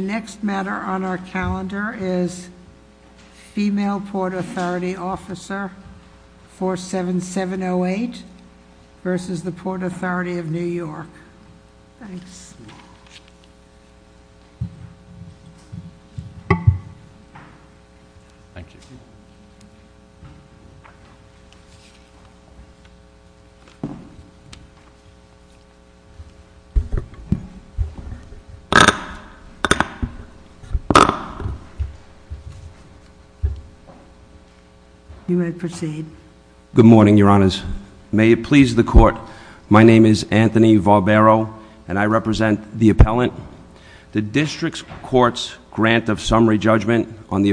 The next matter on our calendar is Female Port Authority Officer 47708 versus the Port Authority of New York. Thanks. Thank you. You may proceed. Good morning, your honors. May it please the court. My name is Anthony Barbero, and I represent the appellant. The district court's grant of summary judgment on the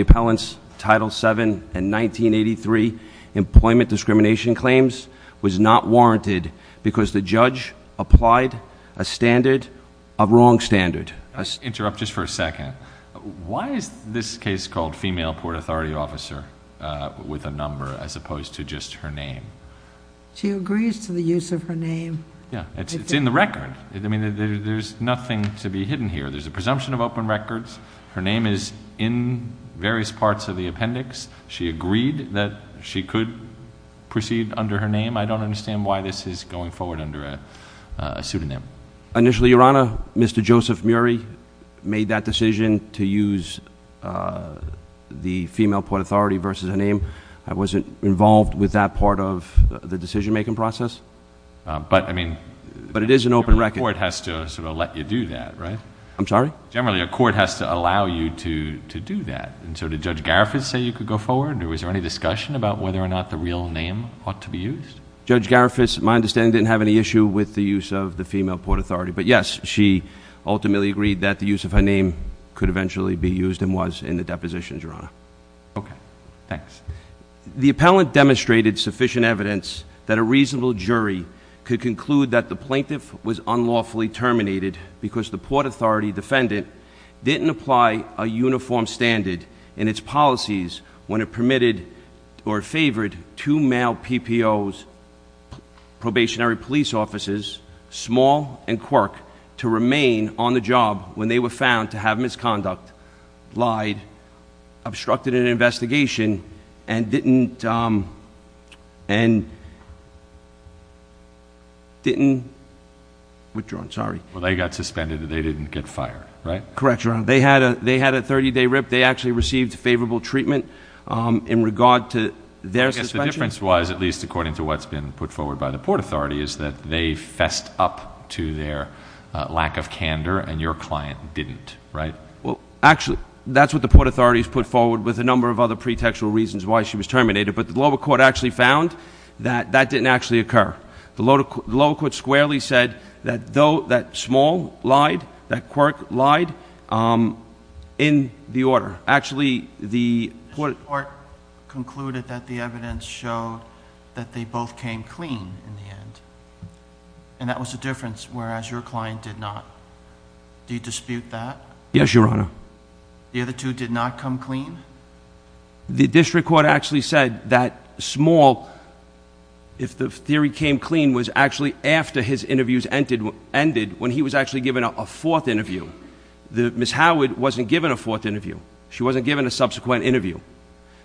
appellant's title seven and 1983 employment discrimination claims was not warranted because the judge applied a standard, a wrong standard. Interrupt just for a second. Why is this case called Female Port Authority Officer with a number as opposed to just her name? She agrees to the use of her name. Yeah, it's in the record. I mean, there's nothing to be hidden here. There's a presumption of open records. Her name is in various parts of the appendix. She agreed that she could proceed under her name. I don't understand why this is going forward under a pseudonym. Initially, your honor, Mr. Joseph Murry made that decision to use the female port authority versus her name. I wasn't involved with that part of the decision making process. But I mean- But it is an open record. The court has to sort of let you do that, right? I'm sorry? Generally, a court has to allow you to do that. And so did Judge Garifas say you could go forward, or was there any discussion about whether or not the real name ought to be used? Judge Garifas, my understanding, didn't have any issue with the use of the female port authority. But yes, she ultimately agreed that the use of her name could eventually be used and was in the depositions, your honor. Okay, thanks. The appellant demonstrated sufficient evidence that a reasonable jury could conclude that the plaintiff was unlawfully terminated because the port authority defendant didn't apply a uniform standard in its policies when it permitted or favored two male PPOs, probationary police officers, small and quirk, to remain on the job when they were found to have misconduct, lied, obstructed an investigation, and didn't withdraw, sorry. Well, they got suspended and they didn't get fired, right? Correct, your honor. They had a 30 day rip. They actually received favorable treatment in regard to their suspension. I guess the difference was, at least according to what's been put forward by the port authority, is that they fessed up to their lack of candor and your client didn't, right? Well, actually, that's what the port authority's put forward with a number of other pretextual reasons why she was terminated. But the lower court actually found that that didn't actually occur. The lower court squarely said that small lied, that quirk lied, in the order. Actually, the- The court concluded that the evidence showed that they both came clean in the end. And that was the difference, whereas your client did not. Do you dispute that? Yes, your honor. The other two did not come clean? The district court actually said that small, if the theory came clean, was actually after his interviews ended when he was actually given a fourth interview. Ms. Howard wasn't given a fourth interview. She wasn't given a subsequent interview.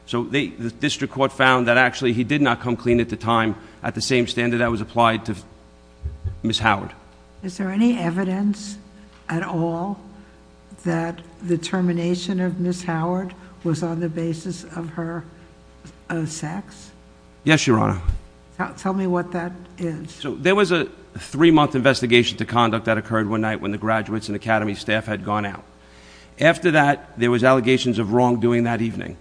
So the district court found that actually he did not come clean at the time at the same standard that was applied to Ms. Howard. Is there any evidence at all that the termination of Ms. Howard was on the basis of her sex? Yes, your honor. Tell me what that is. So there was a three month investigation to conduct that occurred one night when the graduates and academy staff had gone out. After that, there was allegations of wrongdoing that evening.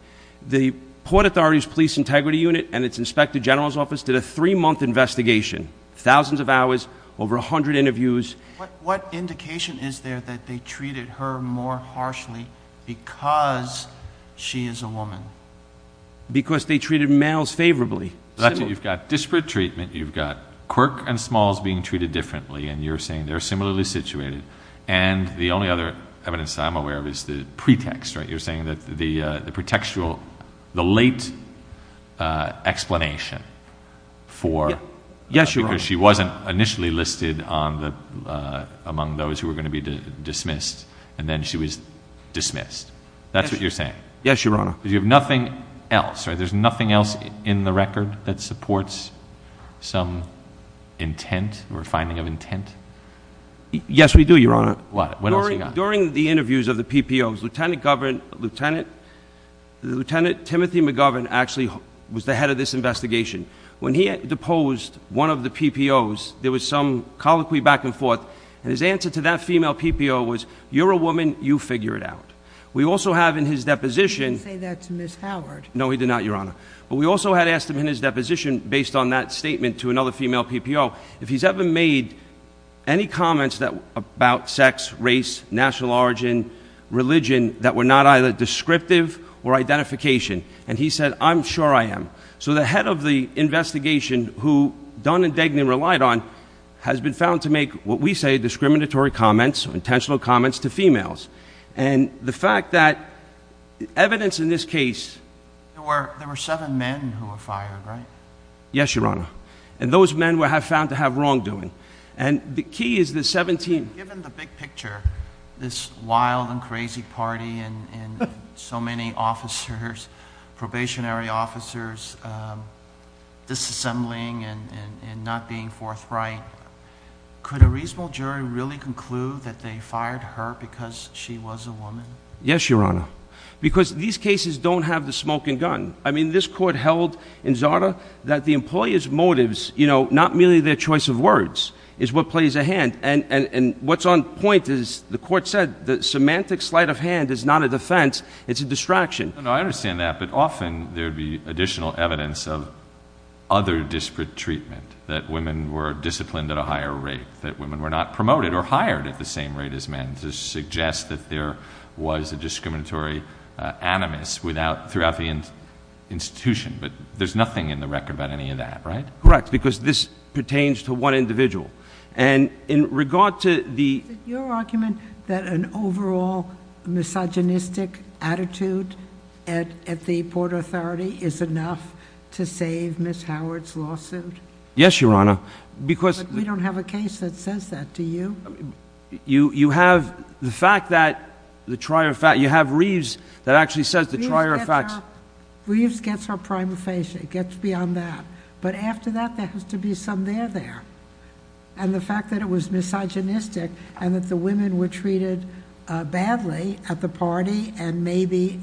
The Port Authority's Police Integrity Unit and its Inspector General's Office did a three month investigation. Thousands of hours, over 100 interviews. What indication is there that they treated her more harshly because she is a woman? Because they treated males favorably. That's it, you've got disparate treatment, you've got quirk and smalls being treated differently, and you're saying they're similarly situated. And the only other evidence that I'm aware of is the pretext, right? You're saying that the pretextual, the late explanation for- Yes, your honor. Because she wasn't initially listed among those who were going to be dismissed, and then she was dismissed. That's what you're saying? Yes, your honor. Because you have nothing else, right? There's nothing else in the record that supports some intent or finding of intent? Yes, we do, your honor. What else you got? During the interviews of the PPO, Lieutenant Timothy McGovern actually was the head of this investigation. When he had deposed one of the PPOs, there was some colloquy back and forth. And his answer to that female PPO was, you're a woman, you figure it out. We also have in his deposition- He didn't say that to Ms. Howard. No, he did not, your honor. But we also had asked him in his deposition, based on that statement to another female PPO, if he's ever made any comments about sex, race, national origin, religion that were not either descriptive or identification. And he said, I'm sure I am. So the head of the investigation, who Dunn and Degner relied on, has been found to make what we say discriminatory comments, intentional comments to females. And the fact that evidence in this case- There were seven men who were fired, right? Yes, your honor. And those men were found to have wrongdoing. And the key is the 17- Given the big picture, this wild and crazy party and so many officers, probationary officers, disassembling and not being forthright. Could a reasonable jury really conclude that they fired her because she was a woman? Yes, your honor. Because these cases don't have the smoke and gun. I mean, this court held in Zarda that the employer's motives, not merely their choice of words, is what plays a hand. And what's on point is, the court said, the semantic sleight of hand is not a defense, it's a distraction. I understand that, but often there'd be additional evidence of other disparate treatment. That women were disciplined at a higher rate. That women were not promoted or hired at the same rate as men to suggest that there was a discriminatory animus throughout the institution. But there's nothing in the record about any of that, right? Correct, because this pertains to one individual. And in regard to the- Your argument that an overall misogynistic attitude at the Port Authority is enough to save Ms. Howard's lawsuit? Yes, your honor. Because- We don't have a case that says that, do you? You have the fact that the trier of facts, you have Reeves that actually says the trier of facts- Reeves gets her prima facie, it gets beyond that. But after that, there has to be some there, there. And the fact that it was misogynistic, and that the women were treated badly at the party, and maybe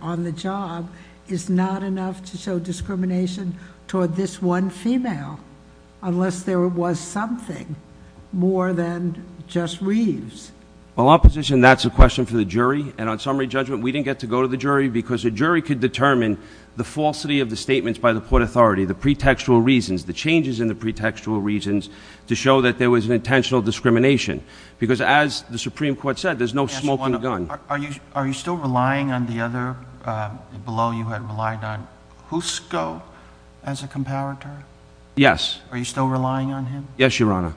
on the job, is not enough to show discrimination toward this one female, unless there was something more than just Reeves. Well, opposition, that's a question for the jury. And on summary judgment, we didn't get to go to the jury, because the jury could determine the falsity of the statements by the Port Authority. The pretextual reasons, the changes in the pretextual reasons to show that there was an intentional discrimination. Because as the Supreme Court said, there's no smoking gun. Are you still relying on the other, below you had relied on, Husco as a comparator? Yes. Are you still relying on him? Yes, your honor.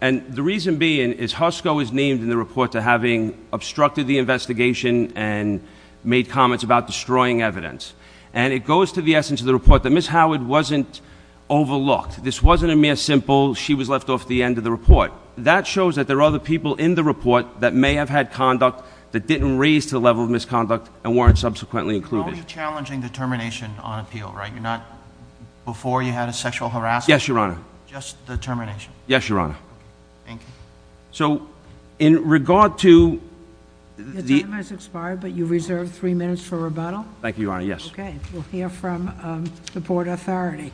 And the reason being is Husco is named in the report to having obstructed the investigation and made comments about destroying evidence. And it goes to the essence of the report that Ms. Howard wasn't overlooked. This wasn't a mere simple, she was left off the end of the report. That shows that there are other people in the report that may have had conduct that didn't raise to the level of misconduct and weren't subsequently included. You're only challenging the termination on appeal, right? You're not, before you had a sexual harassment? Yes, your honor. Just the termination? Yes, your honor. Thank you. So, in regard to- The time has expired, but you reserve three minutes for rebuttal. Thank you, your honor, yes. Okay, we'll hear from the Board of Authority.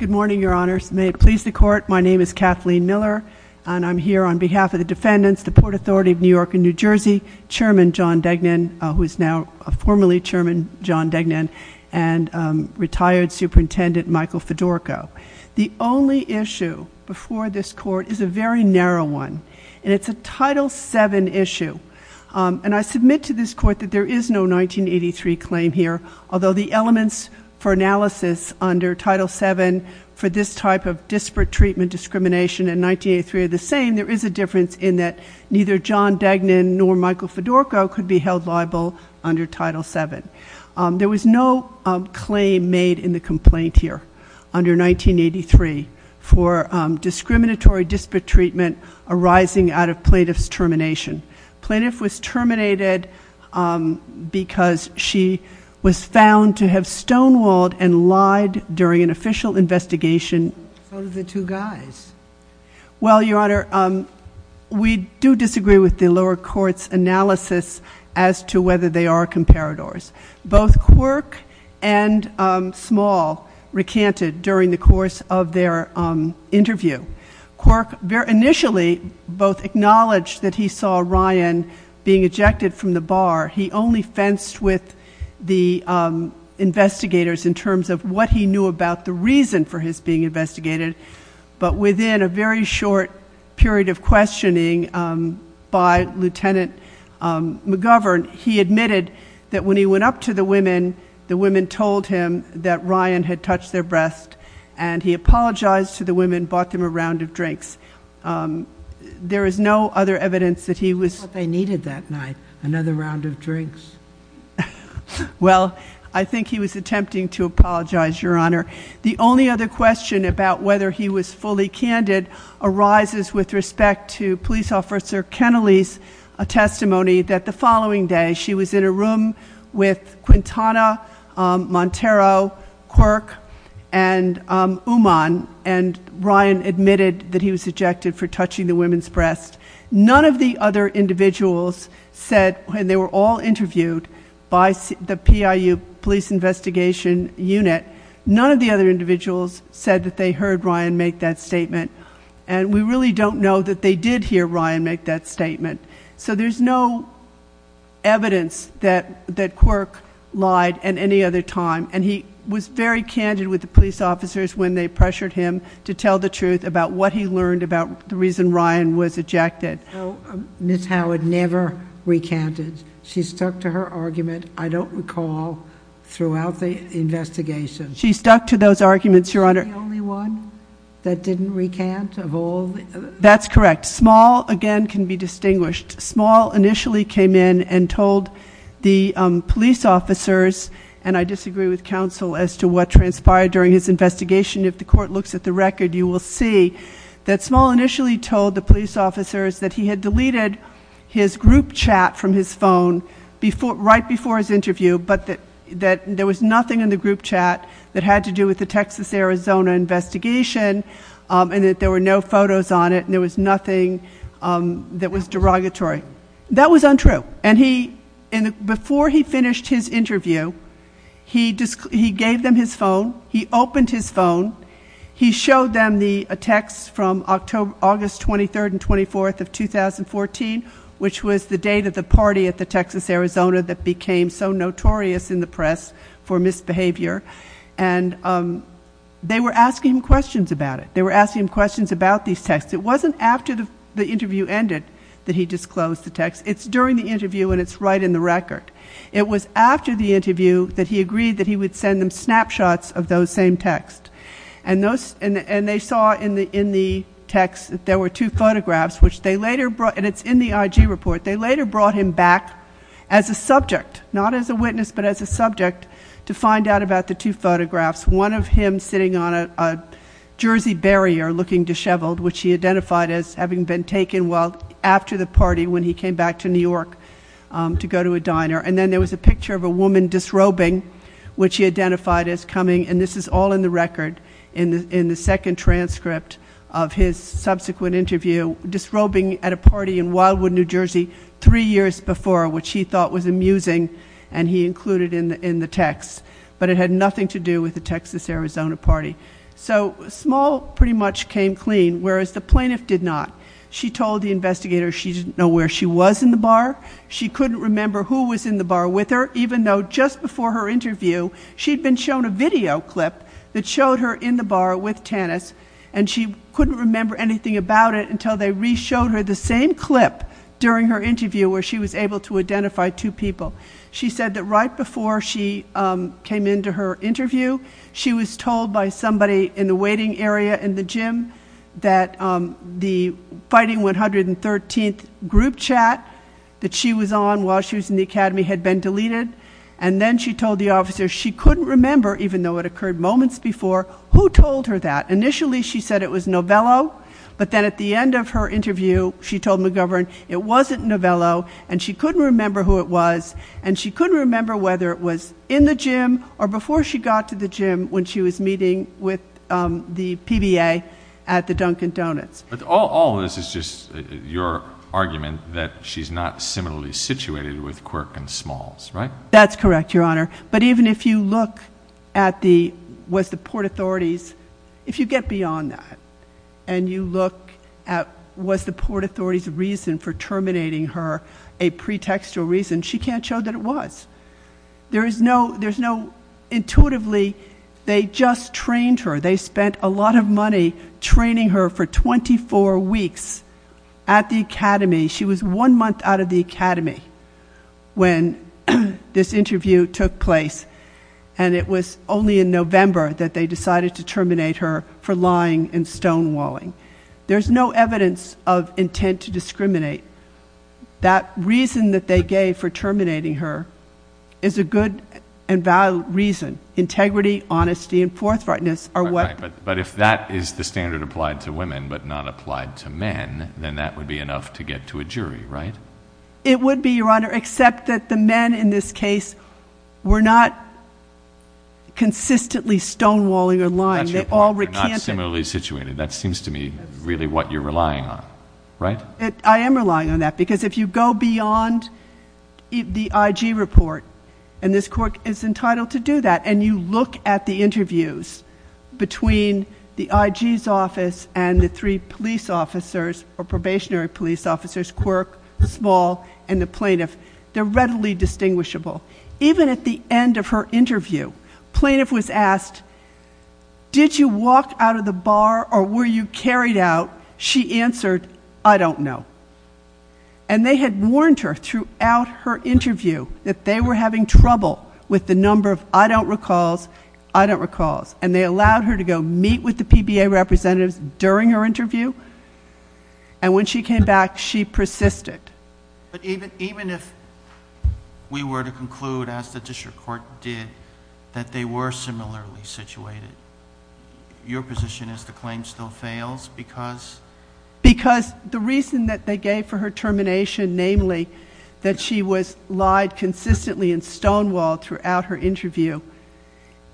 Good morning, your honors. May it please the court, my name is Kathleen Miller, and I'm here on behalf of the defendants, the Port Authority of New York and New Jersey, Chairman John Degnan, who is now formerly Chairman John Degnan, and retired Superintendent Michael Fedorco. The only issue before this court is a very narrow one, and it's a Title VII issue, and I submit to this court that there is no 1983 claim here. Although the elements for analysis under Title VII for this type of disparate treatment discrimination in 1983 are the same, there is a difference in that neither John Degnan nor Michael Fedorco could be held liable under Title VII. There was no claim made in the complaint here under 1983 for discriminatory disparate treatment arising out of plaintiff's termination. Plaintiff was terminated because she was found to have stonewalled and lied during an official investigation. So did the two guys. Well, your honor, we do disagree with the lower court's analysis as to whether they are comparators. Both Quirk and Small recanted during the course of their interview. Quirk initially both acknowledged that he saw Ryan being ejected from the bar. He only fenced with the investigators in terms of what he knew about the reason for his being investigated. But within a very short period of questioning by Lieutenant McGovern, he admitted that when he went up to the women, the women told him that Ryan had touched their breast. And he apologized to the women, bought them a round of drinks. There is no other evidence that he was- I thought they needed that night, another round of drinks. Well, I think he was attempting to apologize, your honor. The only other question about whether he was fully candid arises with respect to police officer Kennelly's testimony that the following day she was in a room with Quintana, Montero, Quirk, and Uman, and Ryan admitted that he was ejected for touching the women's breast. None of the other individuals said, and they were all interviewed by the PIU Police Investigation Unit. None of the other individuals said that they heard Ryan make that statement. And we really don't know that they did hear Ryan make that statement. So there's no evidence that Quirk lied at any other time. And he was very candid with the police officers when they pressured him to tell the truth about what he learned about the reason Ryan was ejected. Ms. Howard never recanted. She stuck to her argument, I don't recall, throughout the investigation. She stuck to those arguments, your honor. I'm the only one that didn't recant of all? That's correct. Small, again, can be distinguished. Small initially came in and told the police officers, and I disagree with counsel as to what transpired during his investigation. If the court looks at the record, you will see that Small initially told the police officers that he had deleted his group chat from his phone right before his interview, but that there was nothing in the group chat that had to do with the Texas, Arizona investigation. And that there were no photos on it, and there was nothing that was derogatory. That was untrue. And before he finished his interview, he gave them his phone. He opened his phone. He showed them a text from August 23rd and 24th of 2014, which was the date of the party at the Texas, Arizona that became so notorious in the press for misbehavior. And they were asking him questions about it. They were asking him questions about these texts. It wasn't after the interview ended that he disclosed the text. It's during the interview, and it's right in the record. It was after the interview that he agreed that he would send them snapshots of those same texts. And they saw in the text that there were two photographs, which they later brought, and it's in the IG report. They later brought him back as a subject, not as a witness, but as a subject, to find out about the two photographs. One of him sitting on a jersey barrier looking disheveled, which he identified as having been taken, well, after the party when he came back to New York to go to a diner. And then there was a picture of a woman disrobing, which he identified as coming, and this is all in the record, in the second transcript of his subsequent interview. Disrobing at a party in Wildwood, New Jersey, three years before, which he thought was amusing, and he included in the text. But it had nothing to do with the Texas, Arizona party. So Small pretty much came clean, whereas the plaintiff did not. She told the investigator she didn't know where she was in the bar. She couldn't remember who was in the bar with her, even though just before her interview, she'd been shown a video clip that showed her in the bar with Tannis. And she couldn't remember anything about it until they re-showed her the same clip during her interview where she was able to identify two people. She said that right before she came into her interview, she was told by somebody in the waiting area in the gym that the Fighting 113th group chat that she was on while she was in the academy had been deleted. And then she told the officer she couldn't remember, even though it occurred moments before, who told her that? Initially, she said it was Novello, but then at the end of her interview, she told McGovern, it wasn't Novello, and she couldn't remember who it was, and she couldn't remember whether it was in the gym or before she got to the gym when she was meeting with the PBA at the Dunkin' Donuts. But all of this is just your argument that she's not similarly situated with Quirk and Smalls, right? That's correct, Your Honor. But even if you look at the, was the Port Authority's, if you get beyond that, and you look at was the Port Authority's reason for terminating her a pretextual reason, she can't show that it was. There is no, intuitively, they just trained her. They spent a lot of money training her for 24 weeks at the academy. She was one month out of the academy when this interview took place. And it was only in November that they decided to terminate her for lying and stonewalling. There's no evidence of intent to discriminate. That reason that they gave for terminating her is a good and valid reason. Integrity, honesty, and forthrightness are what- But if that is the standard applied to women, but not applied to men, then that would be enough to get to a jury, right? It would be, Your Honor, except that the men in this case were not consistently stonewalling or lying. They all recanted. That's your point, they're not similarly situated. That seems to me really what you're relying on, right? I am relying on that, because if you go beyond the IG report, and this court is entitled to do that, and you look at the interviews between the IG's office and the three police officers, or probationary police officers, Quirk, Small, and the plaintiff. They're readily distinguishable. Even at the end of her interview, plaintiff was asked, did you walk out of the bar or were you carried out, she answered, I don't know. And they had warned her throughout her interview that they were having trouble with the number of I don't recalls, I don't recalls. And they allowed her to go meet with the PBA representatives during her interview. And when she came back, she persisted. But even if we were to conclude, as the district court did, that they were similarly situated, your position is the claim still fails because? Because the reason that they gave for her termination, namely that she was lied consistently in Stonewall throughout her interview,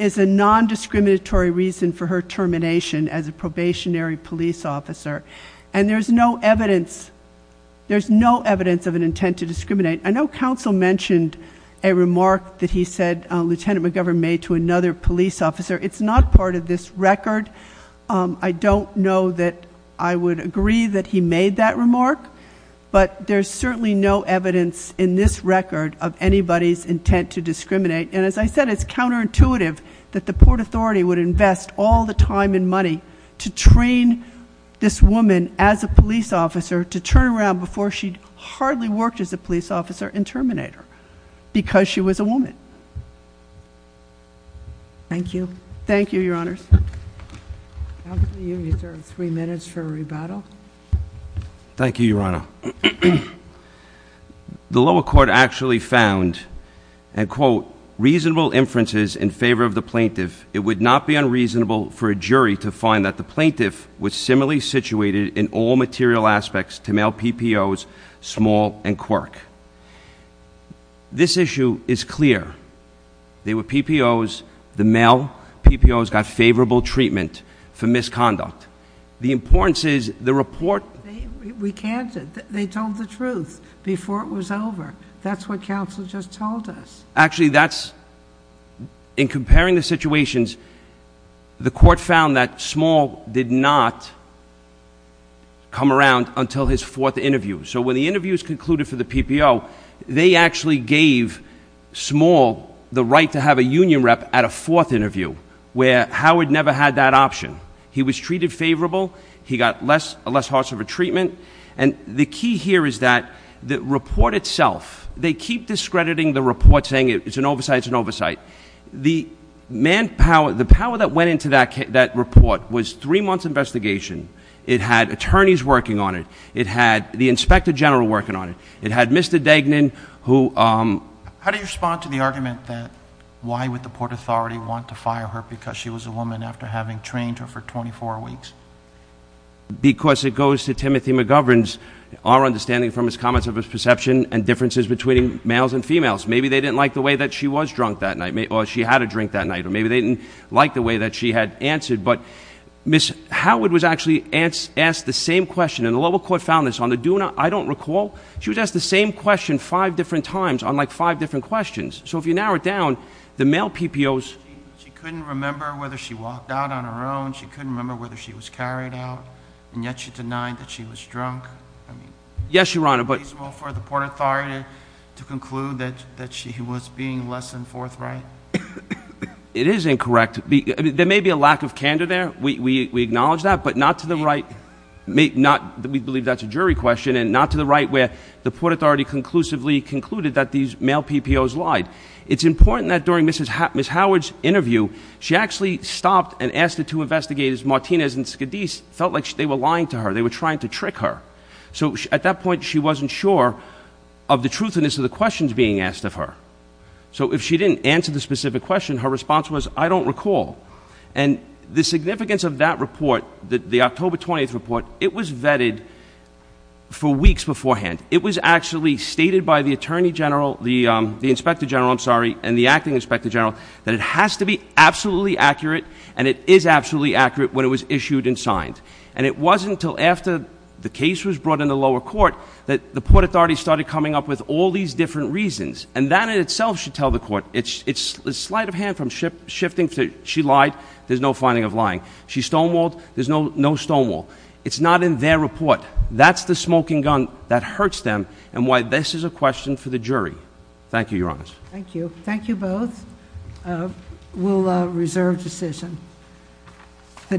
is a non-discriminatory reason for her termination as a probationary police officer. And there's no evidence, there's no evidence of an intent to discriminate. I know counsel mentioned a remark that he said, Lieutenant McGovern made to another police officer. It's not part of this record. I don't know that I would agree that he made that remark. But there's certainly no evidence in this record of anybody's intent to discriminate. And as I said, it's counterintuitive that the Port Authority would invest all the time and money to train this woman as a police officer to turn around before she hardly worked as a police officer and terminate her, because she was a woman. Thank you. Thank you, your honors. Counsel, you deserve three minutes for rebuttal. Thank you, your honor. The lower court actually found, and quote, reasonable inferences in favor of the plaintiff. It would not be unreasonable for a jury to find that the plaintiff was similarly situated in all material aspects to mail PPO's small and quirk. This issue is clear. They were PPO's, the mail PPO's got favorable treatment for misconduct. The importance is the report- We can't, they told the truth before it was over. That's what counsel just told us. Actually that's, in comparing the situations, the court found that small did not come around until his fourth interview. So when the interview is concluded for the PPO, they actually gave small the right to have a union rep at a fourth interview, where Howard never had that option. He was treated favorable, he got less harsh of a treatment. And the key here is that the report itself, they keep discrediting the report saying it's an oversight, it's an oversight. The manpower, the power that went into that report was three months investigation. It had attorneys working on it. It had the Inspector General working on it. It had Mr. Dagnon who- How do you respond to the argument that why would the Port Authority want to fire her because she was a woman after having trained her for 24 weeks? Because it goes to Timothy McGovern's, our understanding from his comments of his perception and differences between males and females. Maybe they didn't like the way that she was drunk that night, or she had a drink that night, or maybe they didn't like the way that she had answered. But Ms. Howard was actually asked the same question, and the local court found this on the DUNA, I don't recall. She was asked the same question five different times on five different questions. So if you narrow it down, the male PPOs- She couldn't remember whether she walked out on her own, she couldn't remember whether she was carried out, and yet she denied that she was drunk. Yes, Your Honor, but- Is it reasonable for the Port Authority to conclude that she was being less than forthright? It is incorrect. There may be a lack of candor there, we acknowledge that, but not to the right. We believe that's a jury question, and not to the right where the Port Authority conclusively concluded that these male PPOs lied. It's important that during Ms. Howard's interview, she actually stopped and asked the two investigators, Martinez and Skadis, it felt like they were lying to her, they were trying to trick her. So at that point, she wasn't sure of the truthiness of the questions being asked of her. So if she didn't answer the specific question, her response was, I don't recall. And the significance of that report, the October 20th report, it was vetted for weeks beforehand. It was actually stated by the Attorney General, the Inspector General, I'm sorry, and the Acting Inspector General, that it has to be absolutely accurate, and it is absolutely accurate when it was issued and signed. And it wasn't until after the case was brought in the lower court that the Port Authority started coming up with all these different reasons. And that in itself should tell the court, it's slight of hand from shifting, she lied, there's no finding of lying. She stonewalled, there's no stonewall. It's not in their report. That's the smoking gun that hurts them, and why this is a question for the jury. Thank you, Your Honors. Thank you. Thank you both. We'll reserve decision.